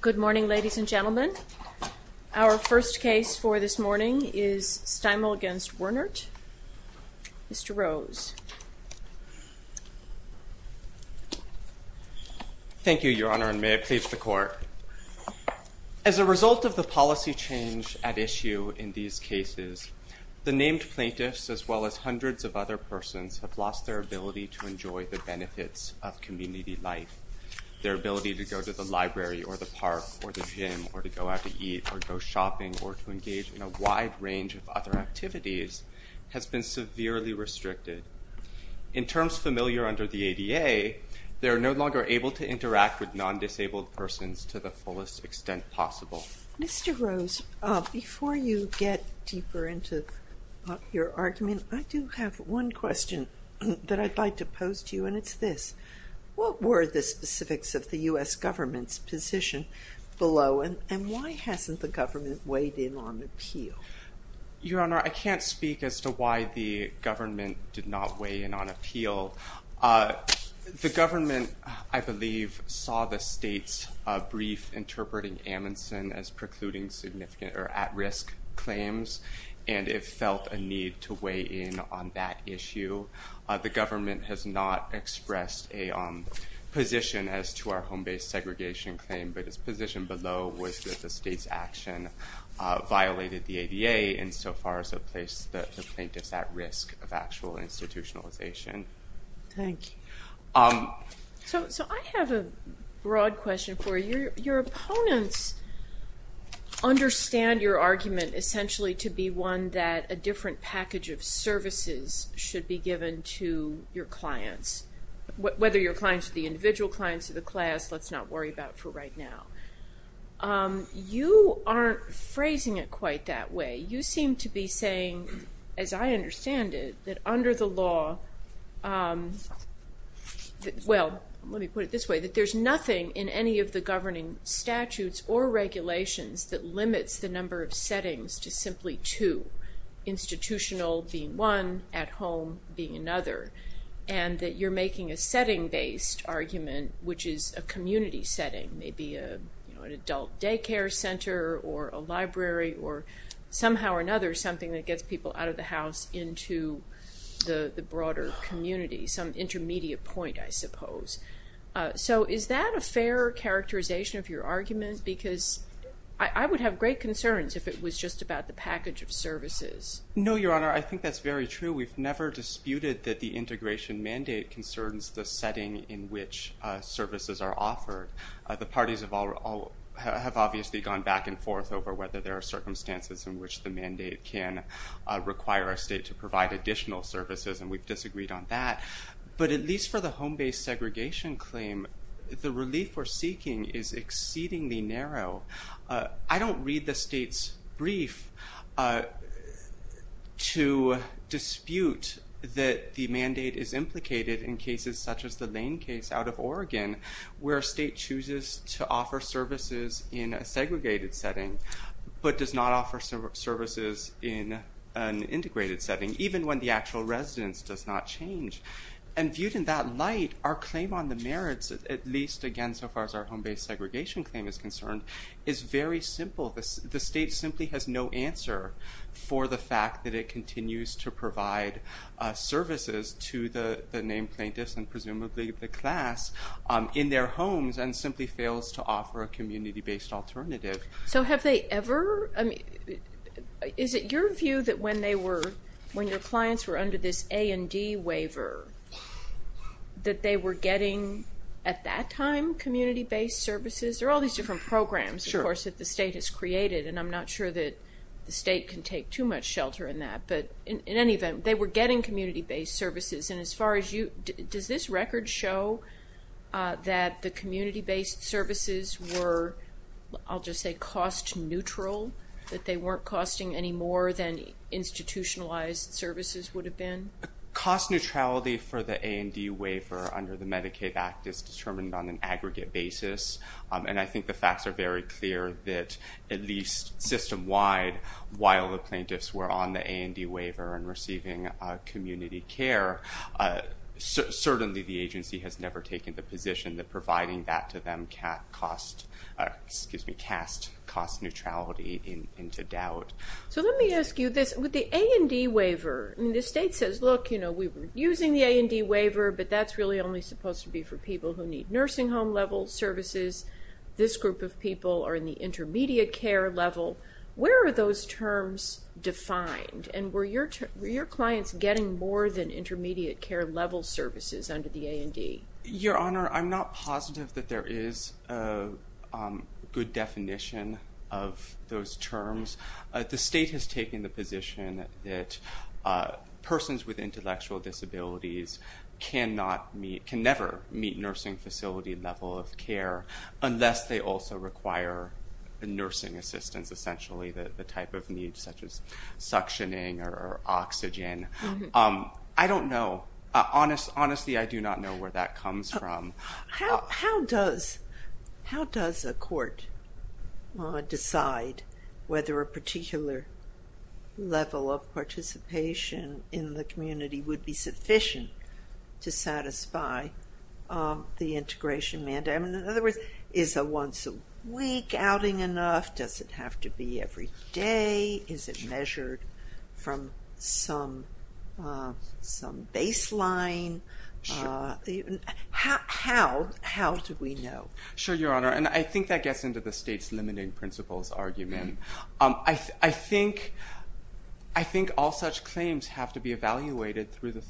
Good morning, ladies and gentlemen. Our first case for this morning is Steimel v. Wernert. Mr. Rose. Thank you, Your Honor, and may it please the Court. As a result of the policy change at issue in these cases, the named plaintiffs, as well as hundreds of other persons, have lost their ability to enjoy the benefits of the library, or the park, or the gym, or to go out to eat, or go shopping, or to engage in a wide range of other activities, has been severely restricted. In terms familiar under the ADA, they are no longer able to interact with non-disabled persons to the fullest extent possible. Mr. Rose, before you get deeper into your argument, I do have one question that I'd like to pose to you, and it's this. What were the specifics of the U.S. government's position below, and why hasn't the government weighed in on appeal? Your Honor, I can't speak as to why the government did not weigh in on appeal. The government, I believe, saw the state's brief interpreting Amundsen as precluding significant or at-risk claims, and it felt a need to weigh in on that issue. The government has not expressed a position as to our home-based segregation claim, but its position below was that the state's action violated the ADA insofar as it placed the plaintiffs at risk of actual institutionalization. Thank you. So I have a broad question for you. Your opponents understand your argument essentially to be one that a different package of services should be given to your clients, whether your clients are the individual clients of the class, let's not worry about for right now. You aren't phrasing it quite that way. You seem to be saying, as I understand it, that under the law, well, let me put it this way, that there's nothing in any of the governing statutes or regulations that limits the number of settings to simply two, institutional being one, at home being another, and that you're putting a setting-based argument, which is a community setting, maybe an adult daycare center or a library or somehow or another something that gets people out of the house into the broader community, some intermediate point, I suppose. So is that a fair characterization of your argument? Because I would have great concerns if it was just about the package of services. No, Your Honor, I think that's very true. We've never disputed that the integration mandate concerns the setting in which services are offered. The parties have all have obviously gone back and forth over whether there are circumstances in which the mandate can require a state to provide additional services, and we've disagreed on that, but at least for the home-based segregation claim, the relief we're seeking is exceedingly narrow. I don't read the state's brief to dispute that the mandate is implicated in cases such as the Lane case out of Oregon, where a state chooses to offer services in a segregated setting, but does not offer services in an integrated setting, even when the actual residence does not change. And viewed in that light, our claim on the merits, at least again so far as our home-based segregation claim is concerned, is very simple. The fact that it continues to provide services to the named plaintiffs and presumably the class in their homes and simply fails to offer a community-based alternative. So have they ever, I mean, is it your view that when they were, when your clients were under this A&D waiver, that they were getting, at that time, community-based services? There are all these different programs, of course, that the state can take too much shelter in that, but in any event, they were getting community-based services. And as far as you, does this record show that the community-based services were, I'll just say, cost-neutral? That they weren't costing any more than institutionalized services would have been? Cost neutrality for the A&D waiver under the Medicaid Act is determined on an aggregate basis, and I think the facts are very clear that at least system-wide, while the plaintiffs were on the A&D waiver and receiving community care, certainly the agency has never taken the position that providing that to them can't cost, excuse me, cast cost neutrality into doubt. So let me ask you this, with the A&D waiver, the state says, look, you know, we were using the A&D waiver, but that's really only supposed to be for people who need nursing home level services. This group of people are in the intermediate care level. Where are those terms defined, and were your clients getting more than intermediate care level services under the A&D? Your Honor, I'm not positive that there is a good definition of those terms. The state has taken the position that persons with intellectual disabilities cannot meet, can never meet nursing facility level of care unless they also require nursing assistance, essentially the type of needs such as suctioning or oxygen. I don't know. Honestly, I do not know where that comes from. How does a court decide whether a particular level of participation in the community would be sufficient to satisfy the integration mandate? In other words, is a once a week outing enough? Does it have to be every day? Is it measured from some baseline? How do we know? Sure, Your Honor, and I think that gets into the state's limiting principles argument. I think all such claims have to be evaluated through the community.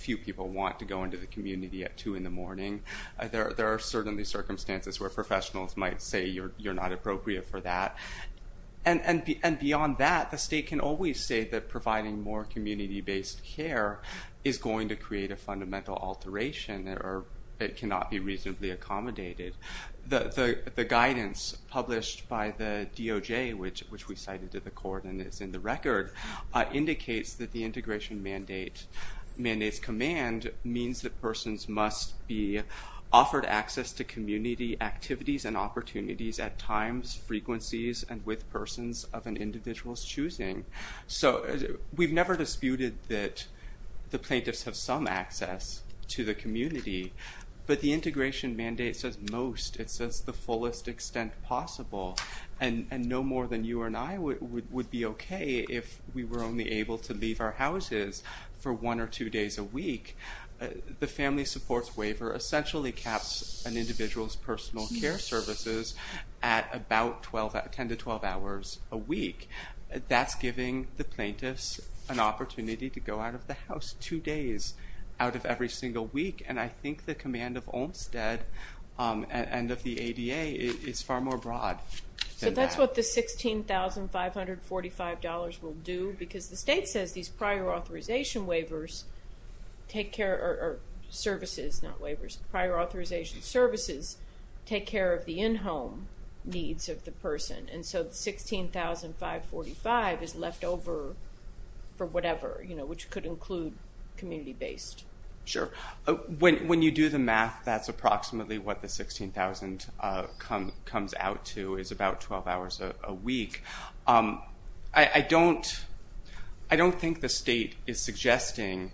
Few people want to go into the community at 2 in the morning. There are certainly circumstances where professionals might say you're not appropriate for that. And beyond that, the state can always say that providing more community-based care is going to create a fundamental alteration or it cannot be reasonably accommodated. The guidance published by the DOJ, which we cited to the court and is in the record, indicates that the mandate's command means that persons must be offered access to community activities and opportunities at times, frequencies, and with persons of an individual's choosing. So we've never disputed that the plaintiffs have some access to the community, but the integration mandate says most. It says the fullest extent possible, and no more than you or I would be okay if we were only able to leave our houses for one or two days a week. The family supports waiver essentially caps an individual's personal care services at about 10 to 12 hours a week. That's giving the plaintiffs an opportunity to go out of the house two days out of every single week, and I think the command of Olmstead and of the ADA is far more broad. So that's what the $16,545 will do, because the state says these prior authorization waivers take care, or services, not waivers, prior authorization services take care of the in-home needs of the person, and so the $16,545 is left over for whatever, which could include community-based. Sure. When you do the math, that's approximately what the $16,000 comes out to is about 12 hours a week. I don't think the state is suggesting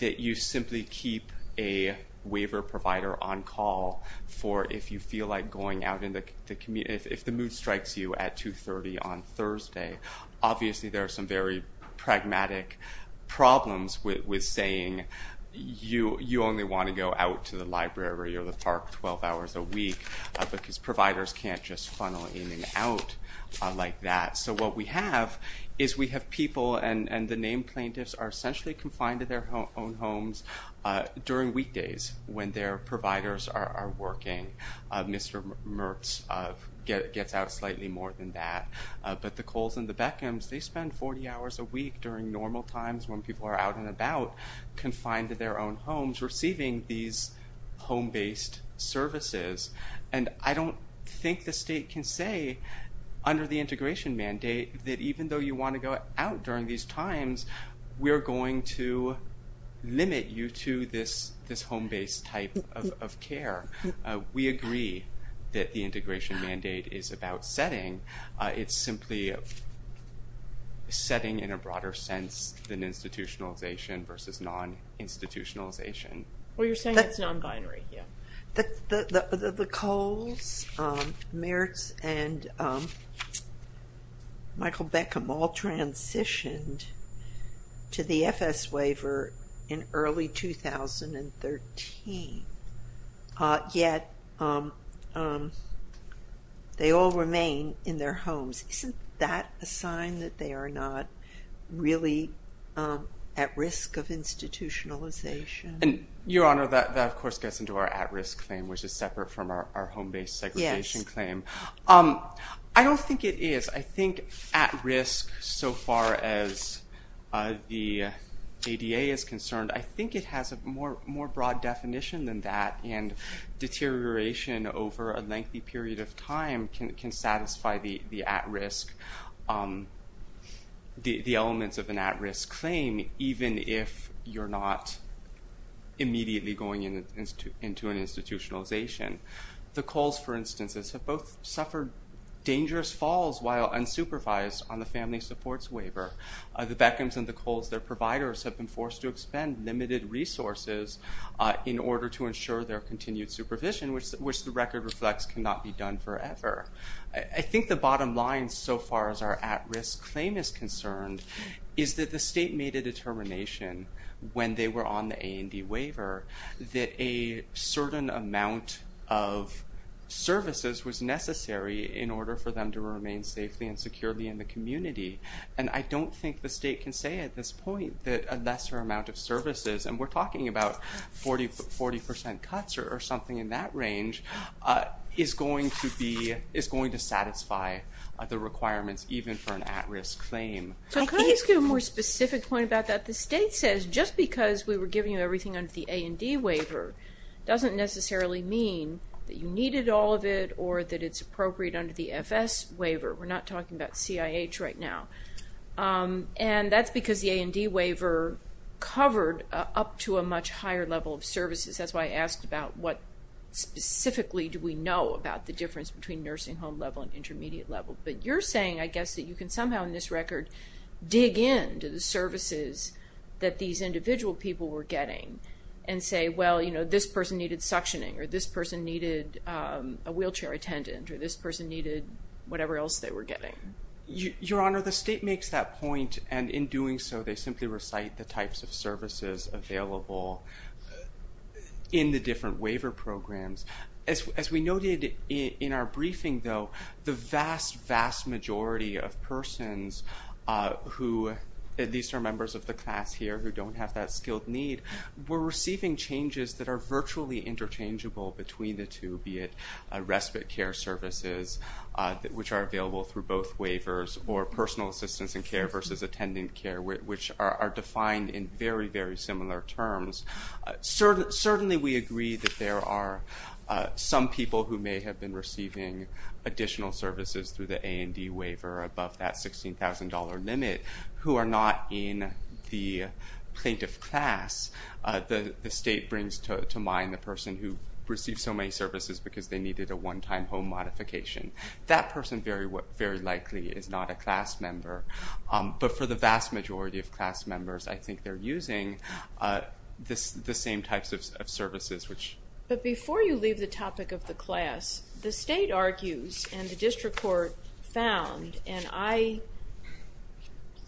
that you simply keep a waiver provider on call for if you feel like going out in the community, if the mood strikes you at 2.30 on Thursday. Obviously there are some very pragmatic problems with saying you only want to go out to the library or the park 12 hours a week, because providers can't just funnel in and out like that. So what we have is we have people, and the named plaintiffs are essentially confined to their own homes during weekdays when their providers are working. Mr. Mertz gets out slightly more than that, but the Coles and the Beckhams, they spend 40 hours a week during normal times when people are out and about, confined to their own homes, receiving these home-based services. And I don't think the state can say under the integration mandate that even though you want to go out during these times, we're going to limit you to this this home-based type of care. We agree that the integration mandate is about setting. It's simply setting in a broader sense than institutionalization versus non-institutionalization. Well, you're saying it's non-binary, yeah. The Coles, Mertz, and Michael Beckham all transitioned to the FS waiver in early 2013, yet they all remain in their homes. Isn't that a sign that they are not really at risk of institutionalization? And Your Honor, that of course gets into our at-risk claim, which is separate from our home-based segregation claim. I don't think it is. I think at-risk, so far as the ADA is concerned, I think it has a more broad definition than that, and deterioration over a lengthy period of time can satisfy the elements of an at-risk claim, even if you're not immediately going into an institutionalization. The Coles, for instance, have both suffered dangerous falls while unsupervised on the family supports waiver. The Beckhams and the Coles, their providers have been providing resources in order to ensure their continued supervision, which the record reflects cannot be done forever. I think the bottom line, so far as our at-risk claim is concerned, is that the state made a determination when they were on the A&D waiver that a certain amount of services was necessary in order for them to remain safely and securely in the community, and I don't think the state can say at this point that a lesser amount of services, and we're talking about 40% cuts or something in that range, is going to be, is going to satisfy the requirements even for an at-risk claim. So can I just get a more specific point about that? The state says just because we were giving you everything under the A&D waiver doesn't necessarily mean that you needed all of it or that it's appropriate under the FS waiver. We're not talking about CIH right now, and that's because the A&D waiver covered up to a much higher level of services. That's why I asked about what specifically do we know about the difference between nursing home level and intermediate level, but you're saying, I guess, that you can somehow in this record dig in to the services that these individual people were getting and say, well, you know, this person needed suctioning, or this person needed a wheelchair attendant, or this person needed whatever else they were getting. Your Honor, the state makes that point, and in doing so they simply recite the services available in the different waiver programs. As we noted in our briefing, though, the vast, vast majority of persons who, at least our members of the class here, who don't have that skilled need, were receiving changes that are virtually interchangeable between the two, be it respite care services, which are available through both waivers, or personal assistance and care versus attendant care, which are defined in very, very similar terms. Certainly we agree that there are some people who may have been receiving additional services through the A&D waiver above that $16,000 limit who are not in the plaintiff class. The state brings to mind the person who received so many services because they needed a one-time home modification. That person very likely is not a class member, but for the vast majority of class members, I think they're using the same types of services. But before you leave the topic of the class, the state argues, and the district court found, and I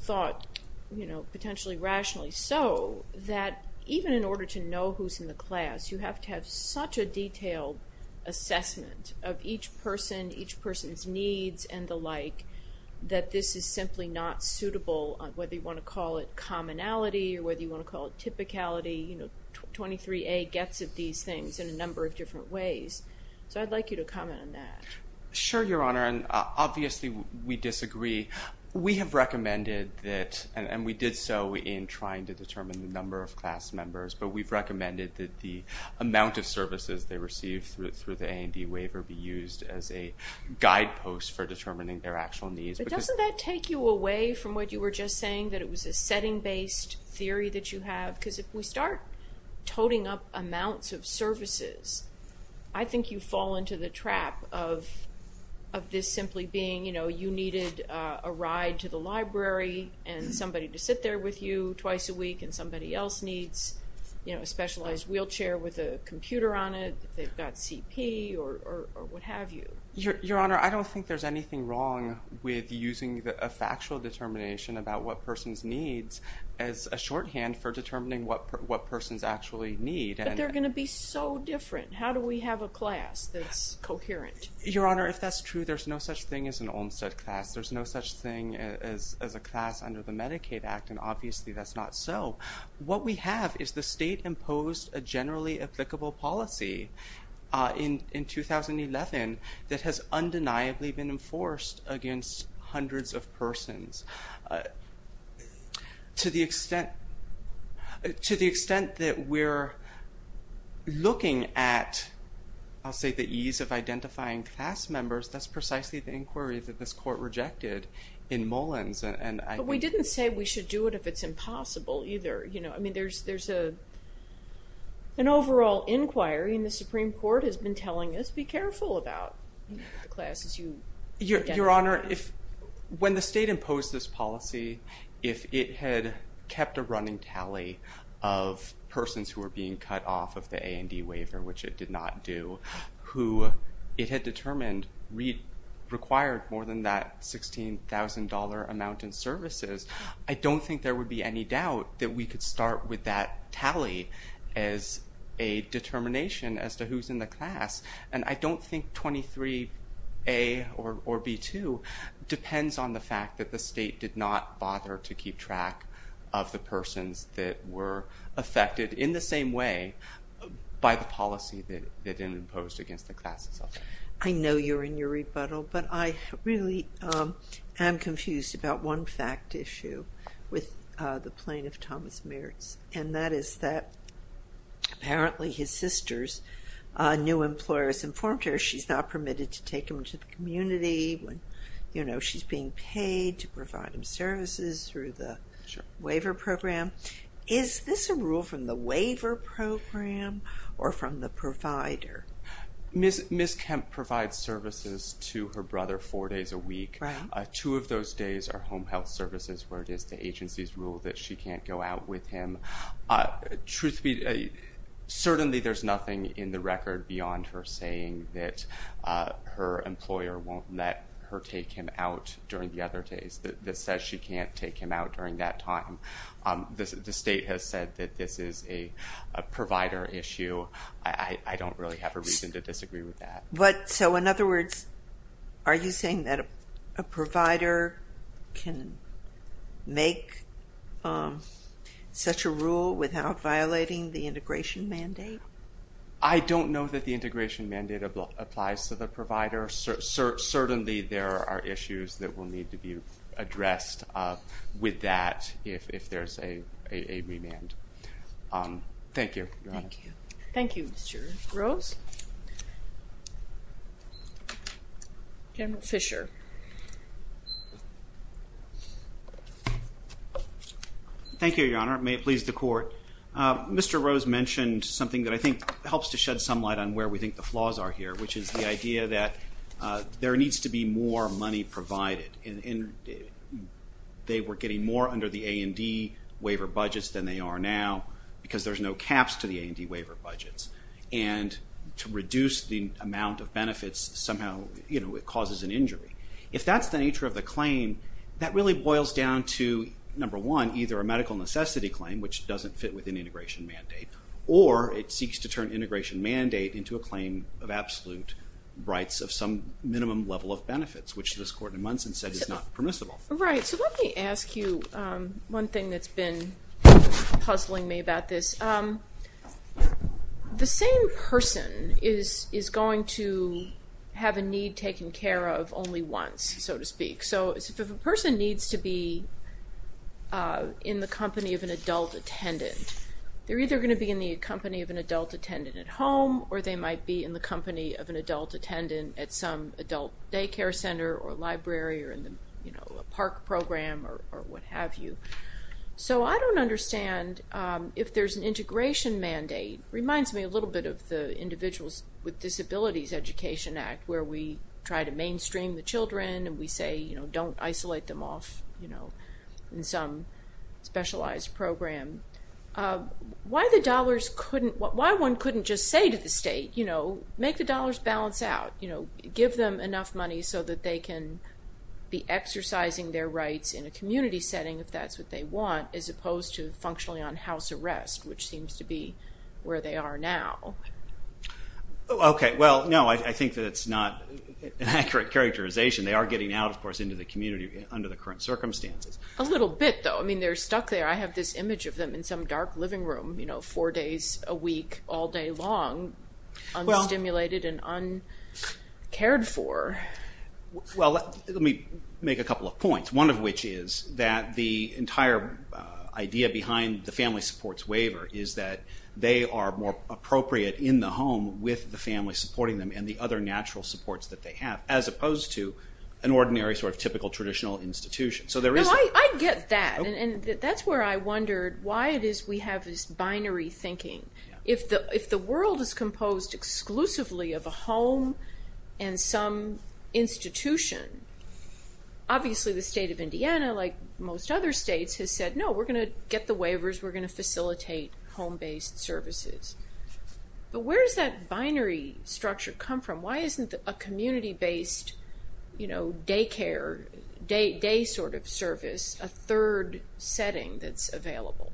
thought, you know, potentially rationally so, that even in order to know who's in the class, you have to have such a detailed assessment of each person, each person's needs, and the like, that this is simply not suitable, whether you want to call it commonality, or whether you want to call it typicality, you know, 23A gets at these things in a number of different ways. So I'd like you to comment on that. Sure, Your Honor, and obviously we disagree. We have recommended that, and we did so in trying to determine the number of class members, but we've recommended that the amount of services they receive through the A&D waiver be used as a guide host for determining their actual needs. But doesn't that take you away from what you were just saying, that it was a setting-based theory that you have? Because if we start toting up amounts of services, I think you fall into the trap of this simply being, you know, you needed a ride to the library, and somebody to sit there with you twice a week, and somebody else needs, you know, a specialized wheelchair with a computer on it, they've got CP, or what have you. Your Honor, I don't think there's anything wrong with using a factual determination about what person's needs as a shorthand for determining what persons actually need. But they're gonna be so different. How do we have a class that's coherent? Your Honor, if that's true, there's no such thing as an Olmstead class. There's no such thing as a class under the Medicaid Act, and obviously that's not so. What we have is the state imposed a generally applicable policy in 2011 that has undeniably been enforced against hundreds of persons. To the extent, to the extent that we're looking at, I'll say, the ease of identifying class members, that's precisely the inquiry that this court rejected in Mullins. But we didn't say we should do it if it's impossible either, you know. I mean, there's an overall inquiry, and the Supreme Court has been telling us, be careful about the classes you identify. Your Honor, if when the state imposed this policy, if it had kept a running tally of persons who were being cut off of the A&D waiver, which it did not do, who it had determined required more than that $16,000 amount in services, I don't think there would be any doubt that we could start with that tally as a determination as to who's in the class. And I don't think 23A or B2 depends on the fact that the state did not bother to keep track of the persons that were affected in the same way by the policy that it imposed against the classes. I know you're in your rebuttal, but I really am confused about one fact issue with the plaintiff Thomas Mertz, and that is that apparently his sister's new employer has informed her she's not permitted to take him to the community when, you know, she's being paid to provide him services through the waiver program. Is this a rule from the waiver program or from the provider? Ms. Kemp provides services to her brother four days a week. Two of those days are home health services, where it is the agency's rule that she can't go out with him. Truth be told, certainly there's nothing in the record beyond her saying that her employer won't let her take him out during the other days, that says she can't take him out during that time. The state has said that this is a provider issue. I don't really have a reason to disagree with that. But, so in other words, are you saying that a provider can make such a rule without violating the integration mandate? I don't know that the integration mandate applies to the provider. Certainly there are issues that will need to be addressed with that if there's a remand. Thank you, Your Honor. Thank you, Mr. Rose. General Fisher. Thank you, Your Honor. May it please the Court. Mr. Rose mentioned something that I think helps to shed some light on where we think the flaws are here, which is the idea that there needs to be more money provided. They were getting more under the A&D waiver budgets than they are now, because there's no caps to the A&D waiver budgets, and to reduce the amount of benefits somehow, you know, it causes an injury. If that's the nature of the claim, that really boils down to, number one, either a medical necessity claim, which doesn't fit with an integration mandate, or it seeks to turn integration mandate into a claim of absolute rights of some minimum level of benefits, which this Court in Munson said is not permissible. Right, so let me ask you one thing that's been puzzling me about this. The same person is going to have a need taken care of only once, so to speak. So if a person needs to be in the company of an adult attendant, they're either going to be in the company of an adult attendant at home, or they might be in the company of an adult attendant at some adult daycare center or library, or in the, you know, a park program, or what have you. So I don't understand, if there's an integration mandate, reminds me a little bit of the Individuals with Disabilities Education Act, where we try to mainstream the children, and we say, you know, don't isolate them off, you know, in some specialized program. Why the dollars couldn't, why one couldn't just say to the state, you know, make the dollars balance out, you know, give them enough money so that they can be exercising their rights in a community setting, if that's what they want, as opposed to functionally on house arrest, which seems to be where they are now. Okay, well, no, I think that it's not an accurate characterization. They are getting out, of course, into the community under the current circumstances. A little bit, though. I mean, they're stuck there. I have this image of them in some dark living room, you know, four days a week, all day long, unstimulated and uncared for. Well, let me make a couple of points, one of which is that the entire idea behind the Family Supports Waiver is that they are more appropriate in the home with the family supporting them and the other natural supports that they have, as opposed to an ordinary sort of typical traditional institution. So there is... I get that, and that's where I wondered why it is we have this binary thinking. If the world is composed exclusively of a home and some institution, obviously the state of Indiana, like most other states, has said, no, we're gonna get the waivers, we're gonna facilitate home-based services. But where does that binary structure come from? Why isn't a community-based, you know, daycare, day sort of service, a third setting that's available?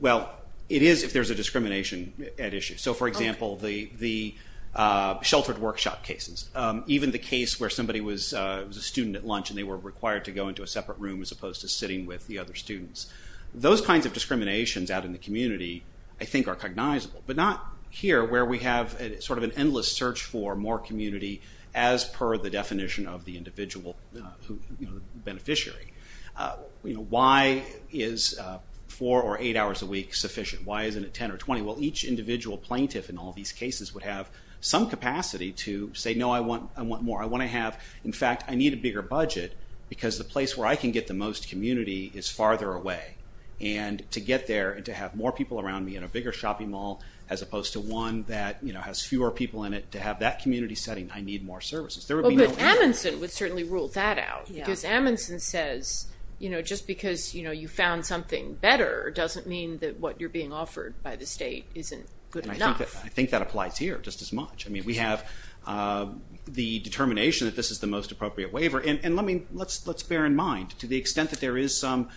Well, it is if there's a discrimination at issue. So for example, the sheltered workshop cases, even the case where somebody was a student at lunch and they were required to go into a separate room as opposed to sitting with the other students. Those kinds of discriminations out in the community, I think, are cognizable. But not here, where we have sort of an endless search for more community as per the definition of the individual beneficiary. You know, why is four or eight hours a week sufficient? Why isn't it 10 or 20? Well, each individual plaintiff in all these cases would have some capacity to say, no, I want more. I want to have, in fact, I need a bigger budget because the place where I can get the most community is farther away. And to get there and to have more people around me in a bigger shopping mall as opposed to one that, you know, has fewer people in it, to have that community setting, I need more services. There would be no... But Amundsen would certainly rule that out. Because Amundsen says, you know, you found something better doesn't mean that what you're being offered by the state isn't good enough. I think that applies here just as much. I mean, we have the determination that this is the most appropriate waiver. And let me, let's bear in mind, to the extent that there is some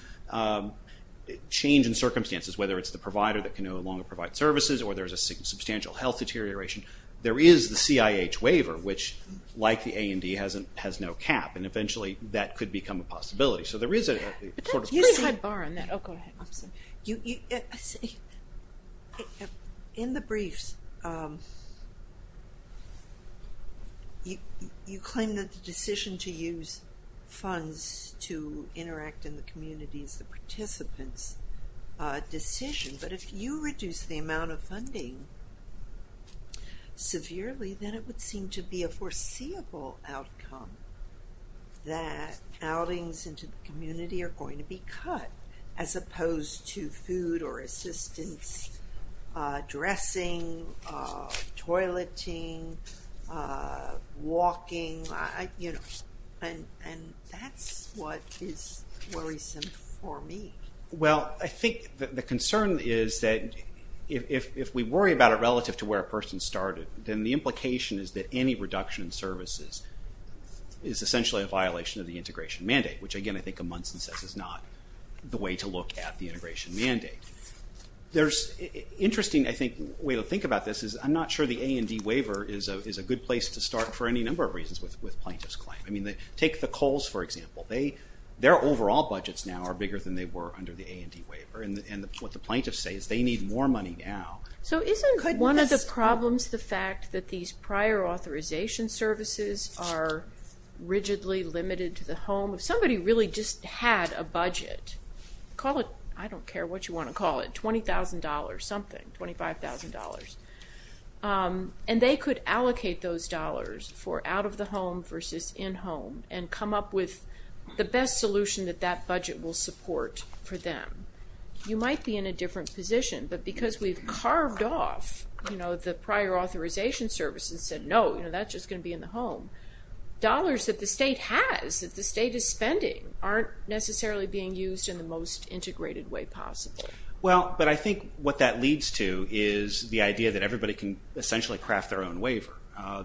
change in circumstances, whether it's the provider that can no longer provide services or there's a substantial health deterioration, there is the CIH waiver which, like the A&D, has no cap. And eventually that could become a possibility. So there is a point of view. You see, in the briefs, you claim that the decision to use funds to interact in the community is the participants' decision. But if you reduce the amount of funding severely, then it would seem to be a foreseeable outcome that outings into the community are going to be cut, as opposed to food or assistance, dressing, toileting, walking, you know. And that's what is worrisome for me. Well, I think the concern is that if we worry about it relative to where a services is essentially a violation of the integration mandate, which again I think Amundsen says is not the way to look at the integration mandate. There's interesting, I think, way to think about this is I'm not sure the A&D waiver is a good place to start for any number of reasons with plaintiffs' claim. I mean, take the Coles, for example. Their overall budgets now are bigger than they were under the A&D waiver. And what the plaintiffs say is they need more money now. So isn't one of the problems the fact that these prior authorization services are rigidly limited to the home? If somebody really just had a budget, call it, I don't care what you want to call it, $20,000 something, $25,000, and they could allocate those dollars for out-of-the-home versus in-home and come up with the best solution that that budget will support for them. You might be in a different position, but because we've carved off, you know, the prior authorization services and said, no, you know, that's just going to be in the home, dollars that the state has, that the state is spending, aren't necessarily being used in the most integrated way possible. Well, but I think what that leads to is the idea that everybody can essentially craft their own waiver.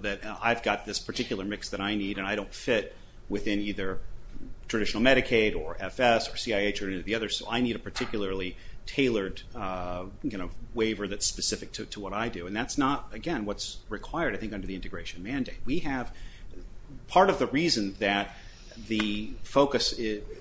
That I've got this particular mix that I need and I don't fit within either traditional Medicaid or FS or CIH or any of the others, so I need a particularly tailored, you know, waiver that's specific to what I do. And that's not, again, what's required, I think, under the integration mandate. We have, part of the reason that the focus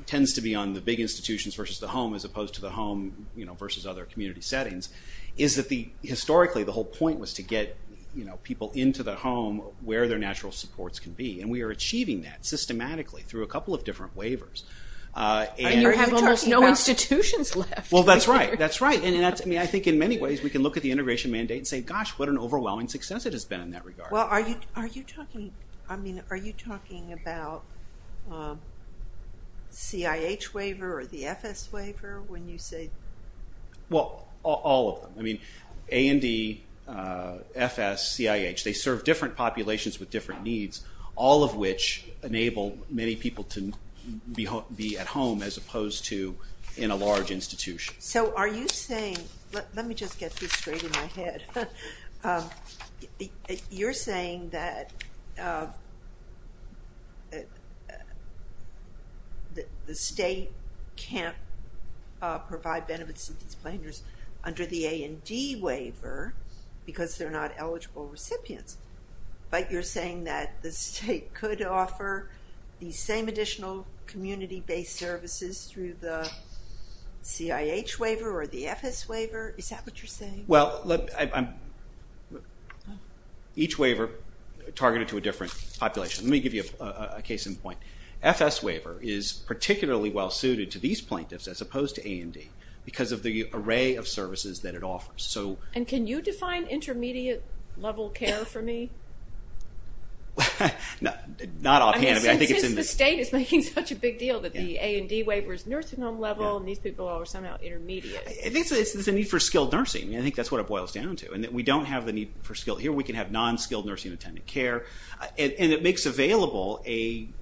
tends to be on the big institutions versus the home as opposed to the home, you know, versus other community settings, is that historically the whole point was to get, you know, people into the home where their natural supports can be. And we are achieving that systematically through a Well, that's right, that's right. And I mean, I think in many ways we can look at the integration mandate and say, gosh, what an overwhelming success it has been in that regard. Well, are you talking, I mean, are you talking about CIH waiver or the FS waiver when you say? Well, all of them. I mean, A&D, FS, CIH, they serve different populations with different needs, all of which enable many people to be at home as opposed to in a large institution. So are you saying, let me just get this straight in my head, you're saying that the state can't provide benefits to these plaintiffs under the A&D waiver because they're not eligible recipients, but you're saying that the state could offer the same additional community-based services through the CIH waiver or the FS waiver? Is that what you're saying? Well, each waiver targeted to a different population. Let me give you a case in point. FS waiver is particularly well suited to these plaintiffs as opposed to A&D because of the array of services that it offers. And can you define intermediate level care for me? Not offhand, I think it's in the state is making such a big deal that the A&D waiver is nursing home level and these people are somehow intermediate. I think it's a need for skilled nursing. I think that's what it boils down to. And that we don't have the need for skilled here, we can have non-skilled nursing and attendant care. And it makes available an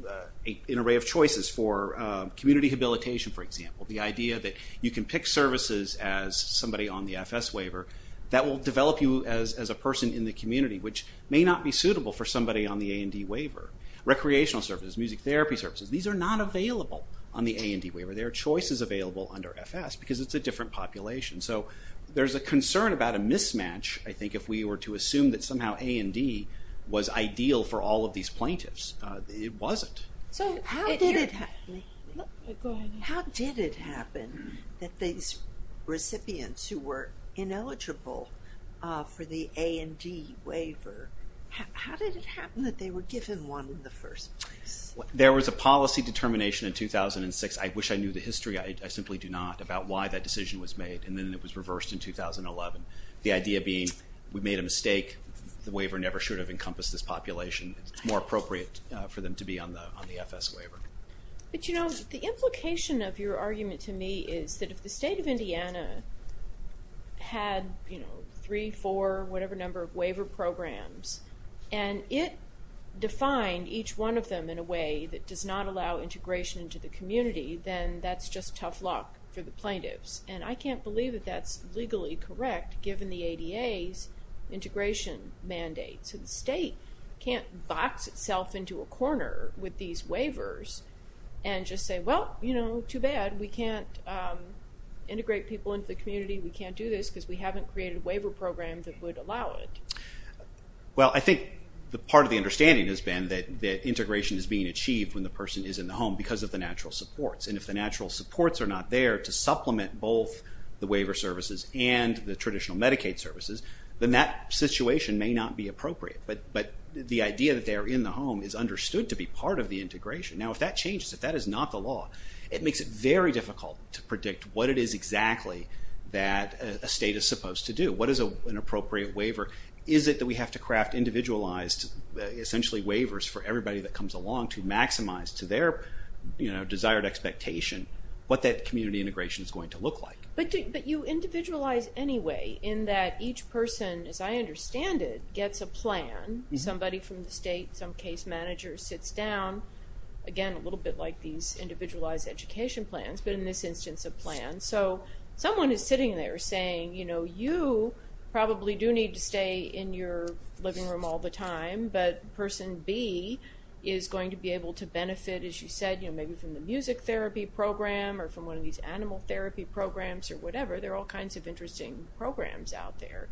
array of choices for community habilitation, for example. The idea that you can pick services as somebody on the FS waiver that will develop you as a person in the community, which may not be suitable for somebody on the A&D waiver. Recreational services, music therapy services, these are not available on the A&D waiver. There are choices available under FS because it's a different population. So there's a concern about a mismatch, I think, if we were to assume that somehow A&D was ideal for all of these plaintiffs. It wasn't. How did it happen that these recipients who were ineligible for the A&D waiver, how did it happen that they were given one in the first place? There was a policy determination in 2006, I wish I knew the history, I simply do not, about why that decision was made and then it was reversed in 2011. The idea being we made a mistake, the waiver never should have encompassed this population. It's more appropriate for them to be on the FS waiver. But you know the implication of your argument to me is that if the state of Indiana had, you know, three, four, whatever number of waiver programs, and it defined each one of them in a way that does not allow integration into the community, then that's just tough luck for the plaintiffs. And I can't believe that that's legally correct given the ADA's integration mandate. So the state can't box itself into a corner with these waivers and just say, well, you know, too bad, we can't integrate people into the community, we can't do this because we haven't created a waiver program that would allow it. Well, I think the part of the understanding has been that integration is being achieved when the person is in the home because of the natural supports. And if the natural supports are not there to supplement both the waiver services and the traditional Medicaid services, then that situation may not be appropriate. But the idea that they are in the home is understood to be part of the integration. Now if that changes, if that is not the law, it makes it very difficult to predict what it is exactly that a state is supposed to do. What is an appropriate waiver? Is it that we have to craft individualized, essentially waivers for everybody that comes along to maximize to their, you know, desired expectation what that community integration is going to look like? But you individualize anyway in that each person, as I understand it, gets a plan. Somebody from the state, some case manager sits down, again a little bit like these individualized education plans, but in this instance a plan. So someone is sitting there saying, you know, you probably do need to stay in your living room all the time, but person B is going to be able to benefit, as you said, you know, maybe from the music therapy program or from one of these animal therapy programs or whatever. There are all kinds of interesting programs out there.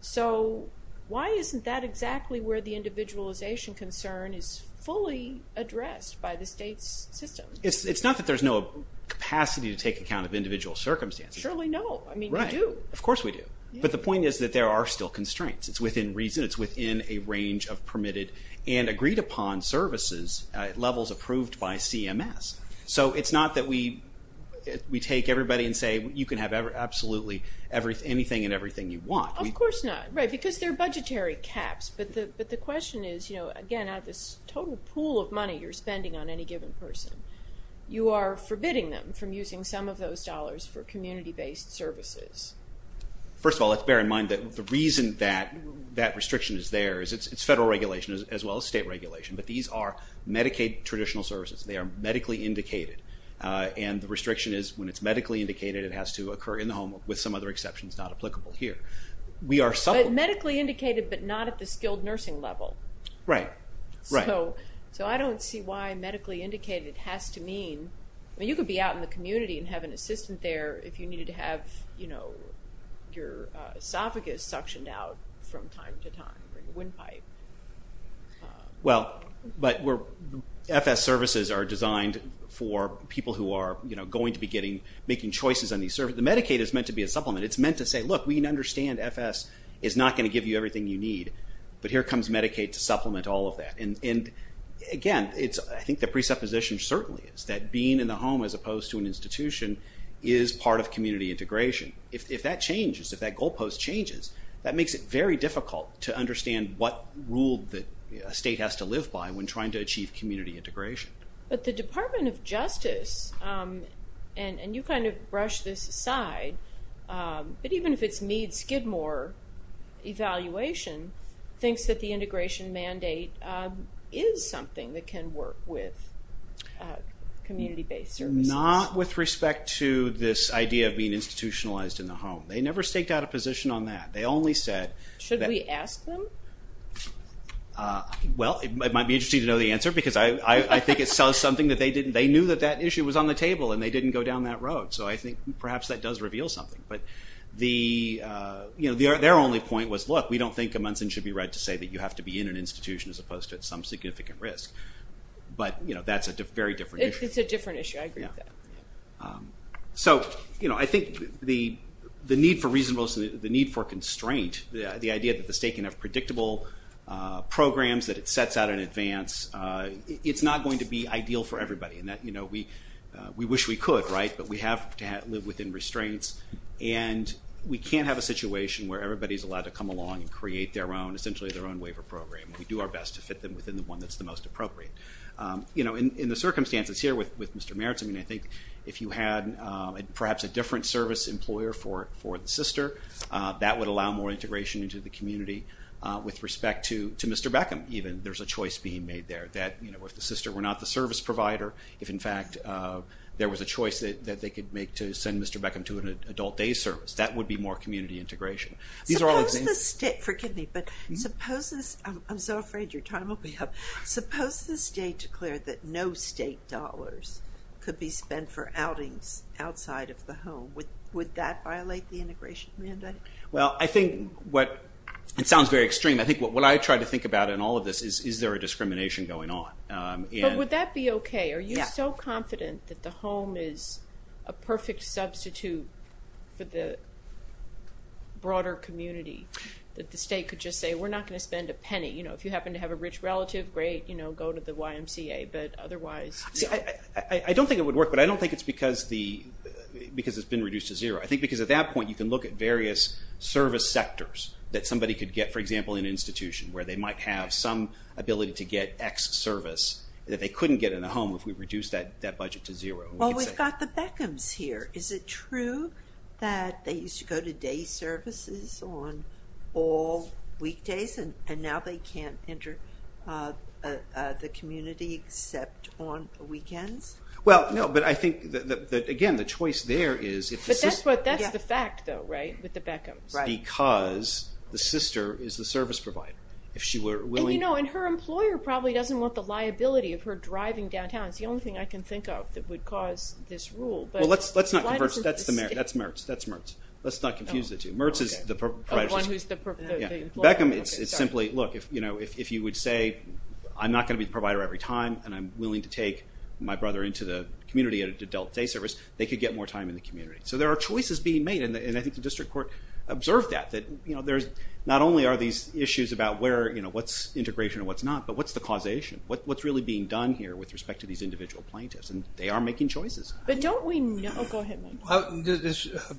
So why isn't that exactly where the individualization concern is fully addressed by the state's system? It's not that there's no capacity to take account of individual circumstances. Surely no, I mean we do. Right, of course we do. But the point is that there are still constraints. It's within reason, it's within a range of permitted and agreed upon services, levels approved by CMS. So it's not that we take everybody and say you can have absolutely anything and everything you want. Of course not, right, because they're budgetary caps. But the question is, you know, again out of this total pool of money you're spending on any given person, you are forbidding them from using some of those dollars for community-based services. First of all, let's bear in mind that the reason that that restriction is there is it's federal regulation as well as state regulation, but these are Medicaid traditional services. They are medically indicated and the restriction is when it's medically indicated it has to occur in the home with some other exceptions not applicable here. We are medically indicated but not at the skilled nursing level. Right, right. So I don't see why medically indicated has to mean, I mean you could be out in the if you needed to have, you know, your esophagus suctioned out from time to time or your windpipe. Well, but we're, FS services are designed for people who are, you know, going to be getting, making choices on these services. The Medicaid is meant to be a supplement. It's meant to say, look, we understand FS is not going to give you everything you need, but here comes Medicaid to supplement all of that. And again, it's, I think the presupposition certainly is that being in the home as opposed to an institution is part of community integration. If that changes, if that goalpost changes, that makes it very difficult to understand what rule that a state has to live by when trying to achieve community integration. But the Department of Justice, and you kind of brush this aside, but even if it's Meade-Skidmore evaluation, thinks that the services... Not with respect to this idea of being institutionalized in the home. They never staked out a position on that. They only said... Should we ask them? Well, it might be interesting to know the answer because I think it sells something that they didn't, they knew that that issue was on the table and they didn't go down that road. So I think perhaps that does reveal something. But the, you know, their only point was, look, we don't think a Munson should be right to say that you have to be in an institution as opposed to at some different issue. I agree with that. So, you know, I think the need for reasonableness, the need for constraint, the idea that the state can have predictable programs that it sets out in advance, it's not going to be ideal for everybody. And that, you know, we we wish we could, right, but we have to live within restraints and we can't have a situation where everybody's allowed to come along and create their own, essentially their own waiver program. We do our best to fit them within the one that's the most appropriate. You know, in the circumstances here with Mr. Meritz, I mean, I think if you had perhaps a different service employer for the sister, that would allow more integration into the community with respect to Mr. Beckham even. There's a choice being made there that, you know, if the sister were not the service provider, if in fact there was a choice that they could make to send Mr. Beckham to an adult day service, that would be more community integration. These are all examples. Suppose the state, forgive me, but suppose this, I'm so afraid your time will be up, suppose the state dollars could be spent for outings outside of the home. Would that violate the integration mandate? Well, I think what, it sounds very extreme, I think what I try to think about in all of this is, is there a discrimination going on? But would that be okay? Are you so confident that the home is a perfect substitute for the broader community that the state could just say, we're not going to spend a penny, you know, if you happen to have a rich relative, great, you know. I don't think it would work, but I don't think it's because the, because it's been reduced to zero. I think because at that point you can look at various service sectors that somebody could get, for example, an institution where they might have some ability to get X service that they couldn't get in a home if we reduce that budget to zero. Well, we've got the Beckhams here. Is it true that they used to go to day services on all weekdays and now they can't enter the community except on weekends? Well, no, but I think that again the choice there is... But that's the fact though, right? With the Beckhams. Because the sister is the service provider. If she were willing... And you know, and her employer probably doesn't want the liability of her driving downtown. It's the only thing I can think of that would cause this rule. Well, let's not converse, that's the mayor, that's Mertz, that's Mertz. Let's not confuse the two. Mertz is the proprietor. Beckham, it's simply, look, if you know, if you would say I'm not going to be the provider every time and I'm willing to take my brother into the community at an adult day service, they could get more time in the community. So there are choices being made and I think the district court observed that. That, you know, there's not only are these issues about where, you know, what's integration or what's not, but what's the causation? What's really being done here with respect to these individual plaintiffs? And they are making choices. But don't we know... Go ahead, Mike.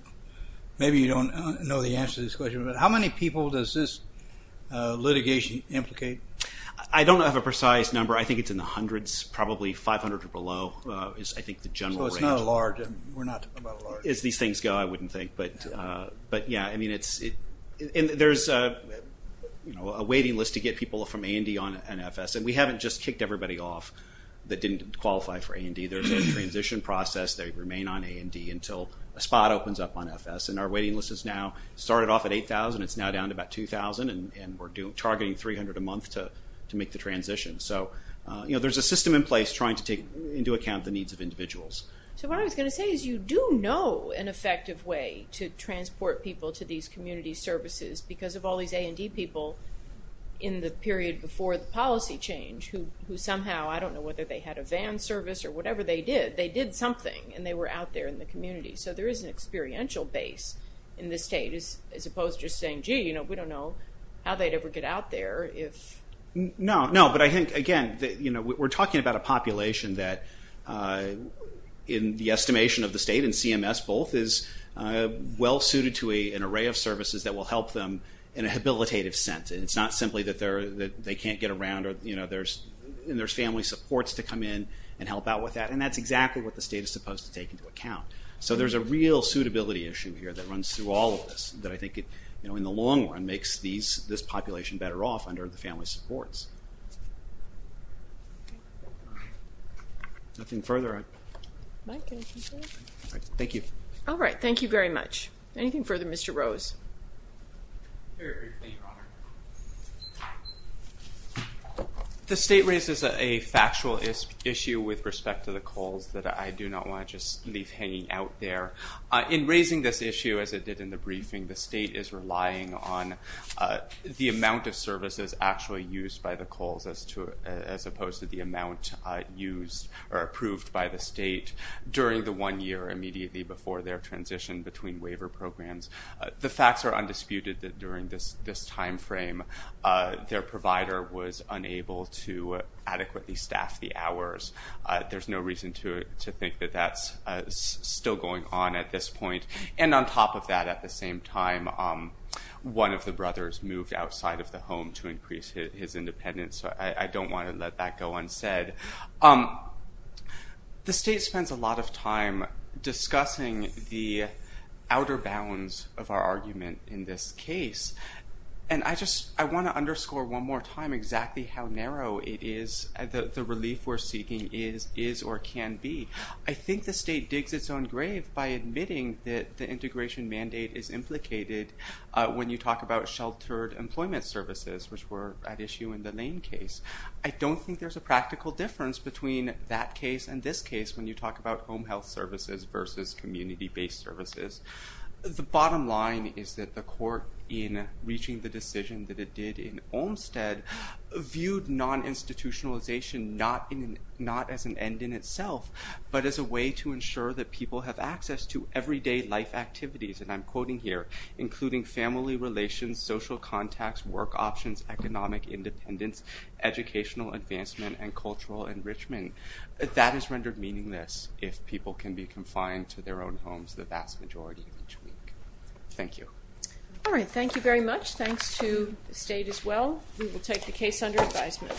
Maybe you don't know the answer to this question, but how many people does this litigation implicate? I don't have a precise number. I think it's in the hundreds, probably 500 or below is, I think, the general range. So it's not a large, we're not talking about a large. As these things go, I wouldn't think. But yeah, I mean, it's, there's a waiting list to get people from A&D on an FS and we haven't just kicked everybody off that didn't qualify for A&D. There's a transition process, they remain on A&D until a spot opens up on FS and our waiting list is now, started off at 8,000, it's now down to about 2,000 and we're targeting 300 a month to make the transition. So, you know, there's a system in place trying to take into account the needs of individuals. So what I was going to say is you do know an effective way to transport people to these community services because of all these A&D people in the period before the policy change who somehow, I don't know whether they had a van service or whatever they did, they did something and they were out there in the community. So there is an experiential base in the state as opposed to just saying, gee, you know, we don't know how they'd ever get out there if... No, no, but I think, again, you know, we're talking about a population that in the estimation of the state and CMS both is well suited to a an array of services that will help them in a habilitative sense and it's not simply that they can't get around or, you know, there's, there's family supports to come in and help out with that and that's exactly what the state is supposed to take into account. So there's a real suitability issue here that runs through all of this, that I think it, you know, in the long run makes these, this population better off under the family supports. Nothing further? Thank you. All right, thank you very much. Anything further? Mr. Rose. The state raises a factual issue with respect to the coals that I do not want to just leave hanging out there. In raising this issue, as it did in the briefing, the state is relying on the amount of services actually used by the coals as to, as opposed to the amount used or approved by the state during the one year immediately before their transition between waiver programs. The facts are undisputed that during this this time frame their provider was unable to adequately staff the hours. There's no reason to think that that's still going on at this point. And on top of that, at the same time, one of the brothers moved outside of the home to increase his independence. I don't want to let that go unsaid. The state spends a lot of time discussing the outer bounds of our argument in this case, and I just, I want to underscore one more time exactly how narrow it is, the relief we're seeking is, is or can be. I think the state digs its own grave by admitting that the integration mandate is implicated when you talk about sheltered employment services, which were at issue in the Lane case. I don't think there's a practical difference between that case and this case when you talk about home health services versus community-based services. The bottom line is that the court, in reaching the decision that it did in Olmstead, viewed non-institutionalization not in, not as an end in itself, but as a way to ensure that people have access to everyday life activities, and I'm quoting here, including family relations, social contacts, work options, economic independence, educational advancement, and cultural enrichment. That is rendered meaningless if people can be confined to their own homes the vast majority of each week. Thank you. All right, thank you very much. Thanks to the state as well. We will take the case under advisement.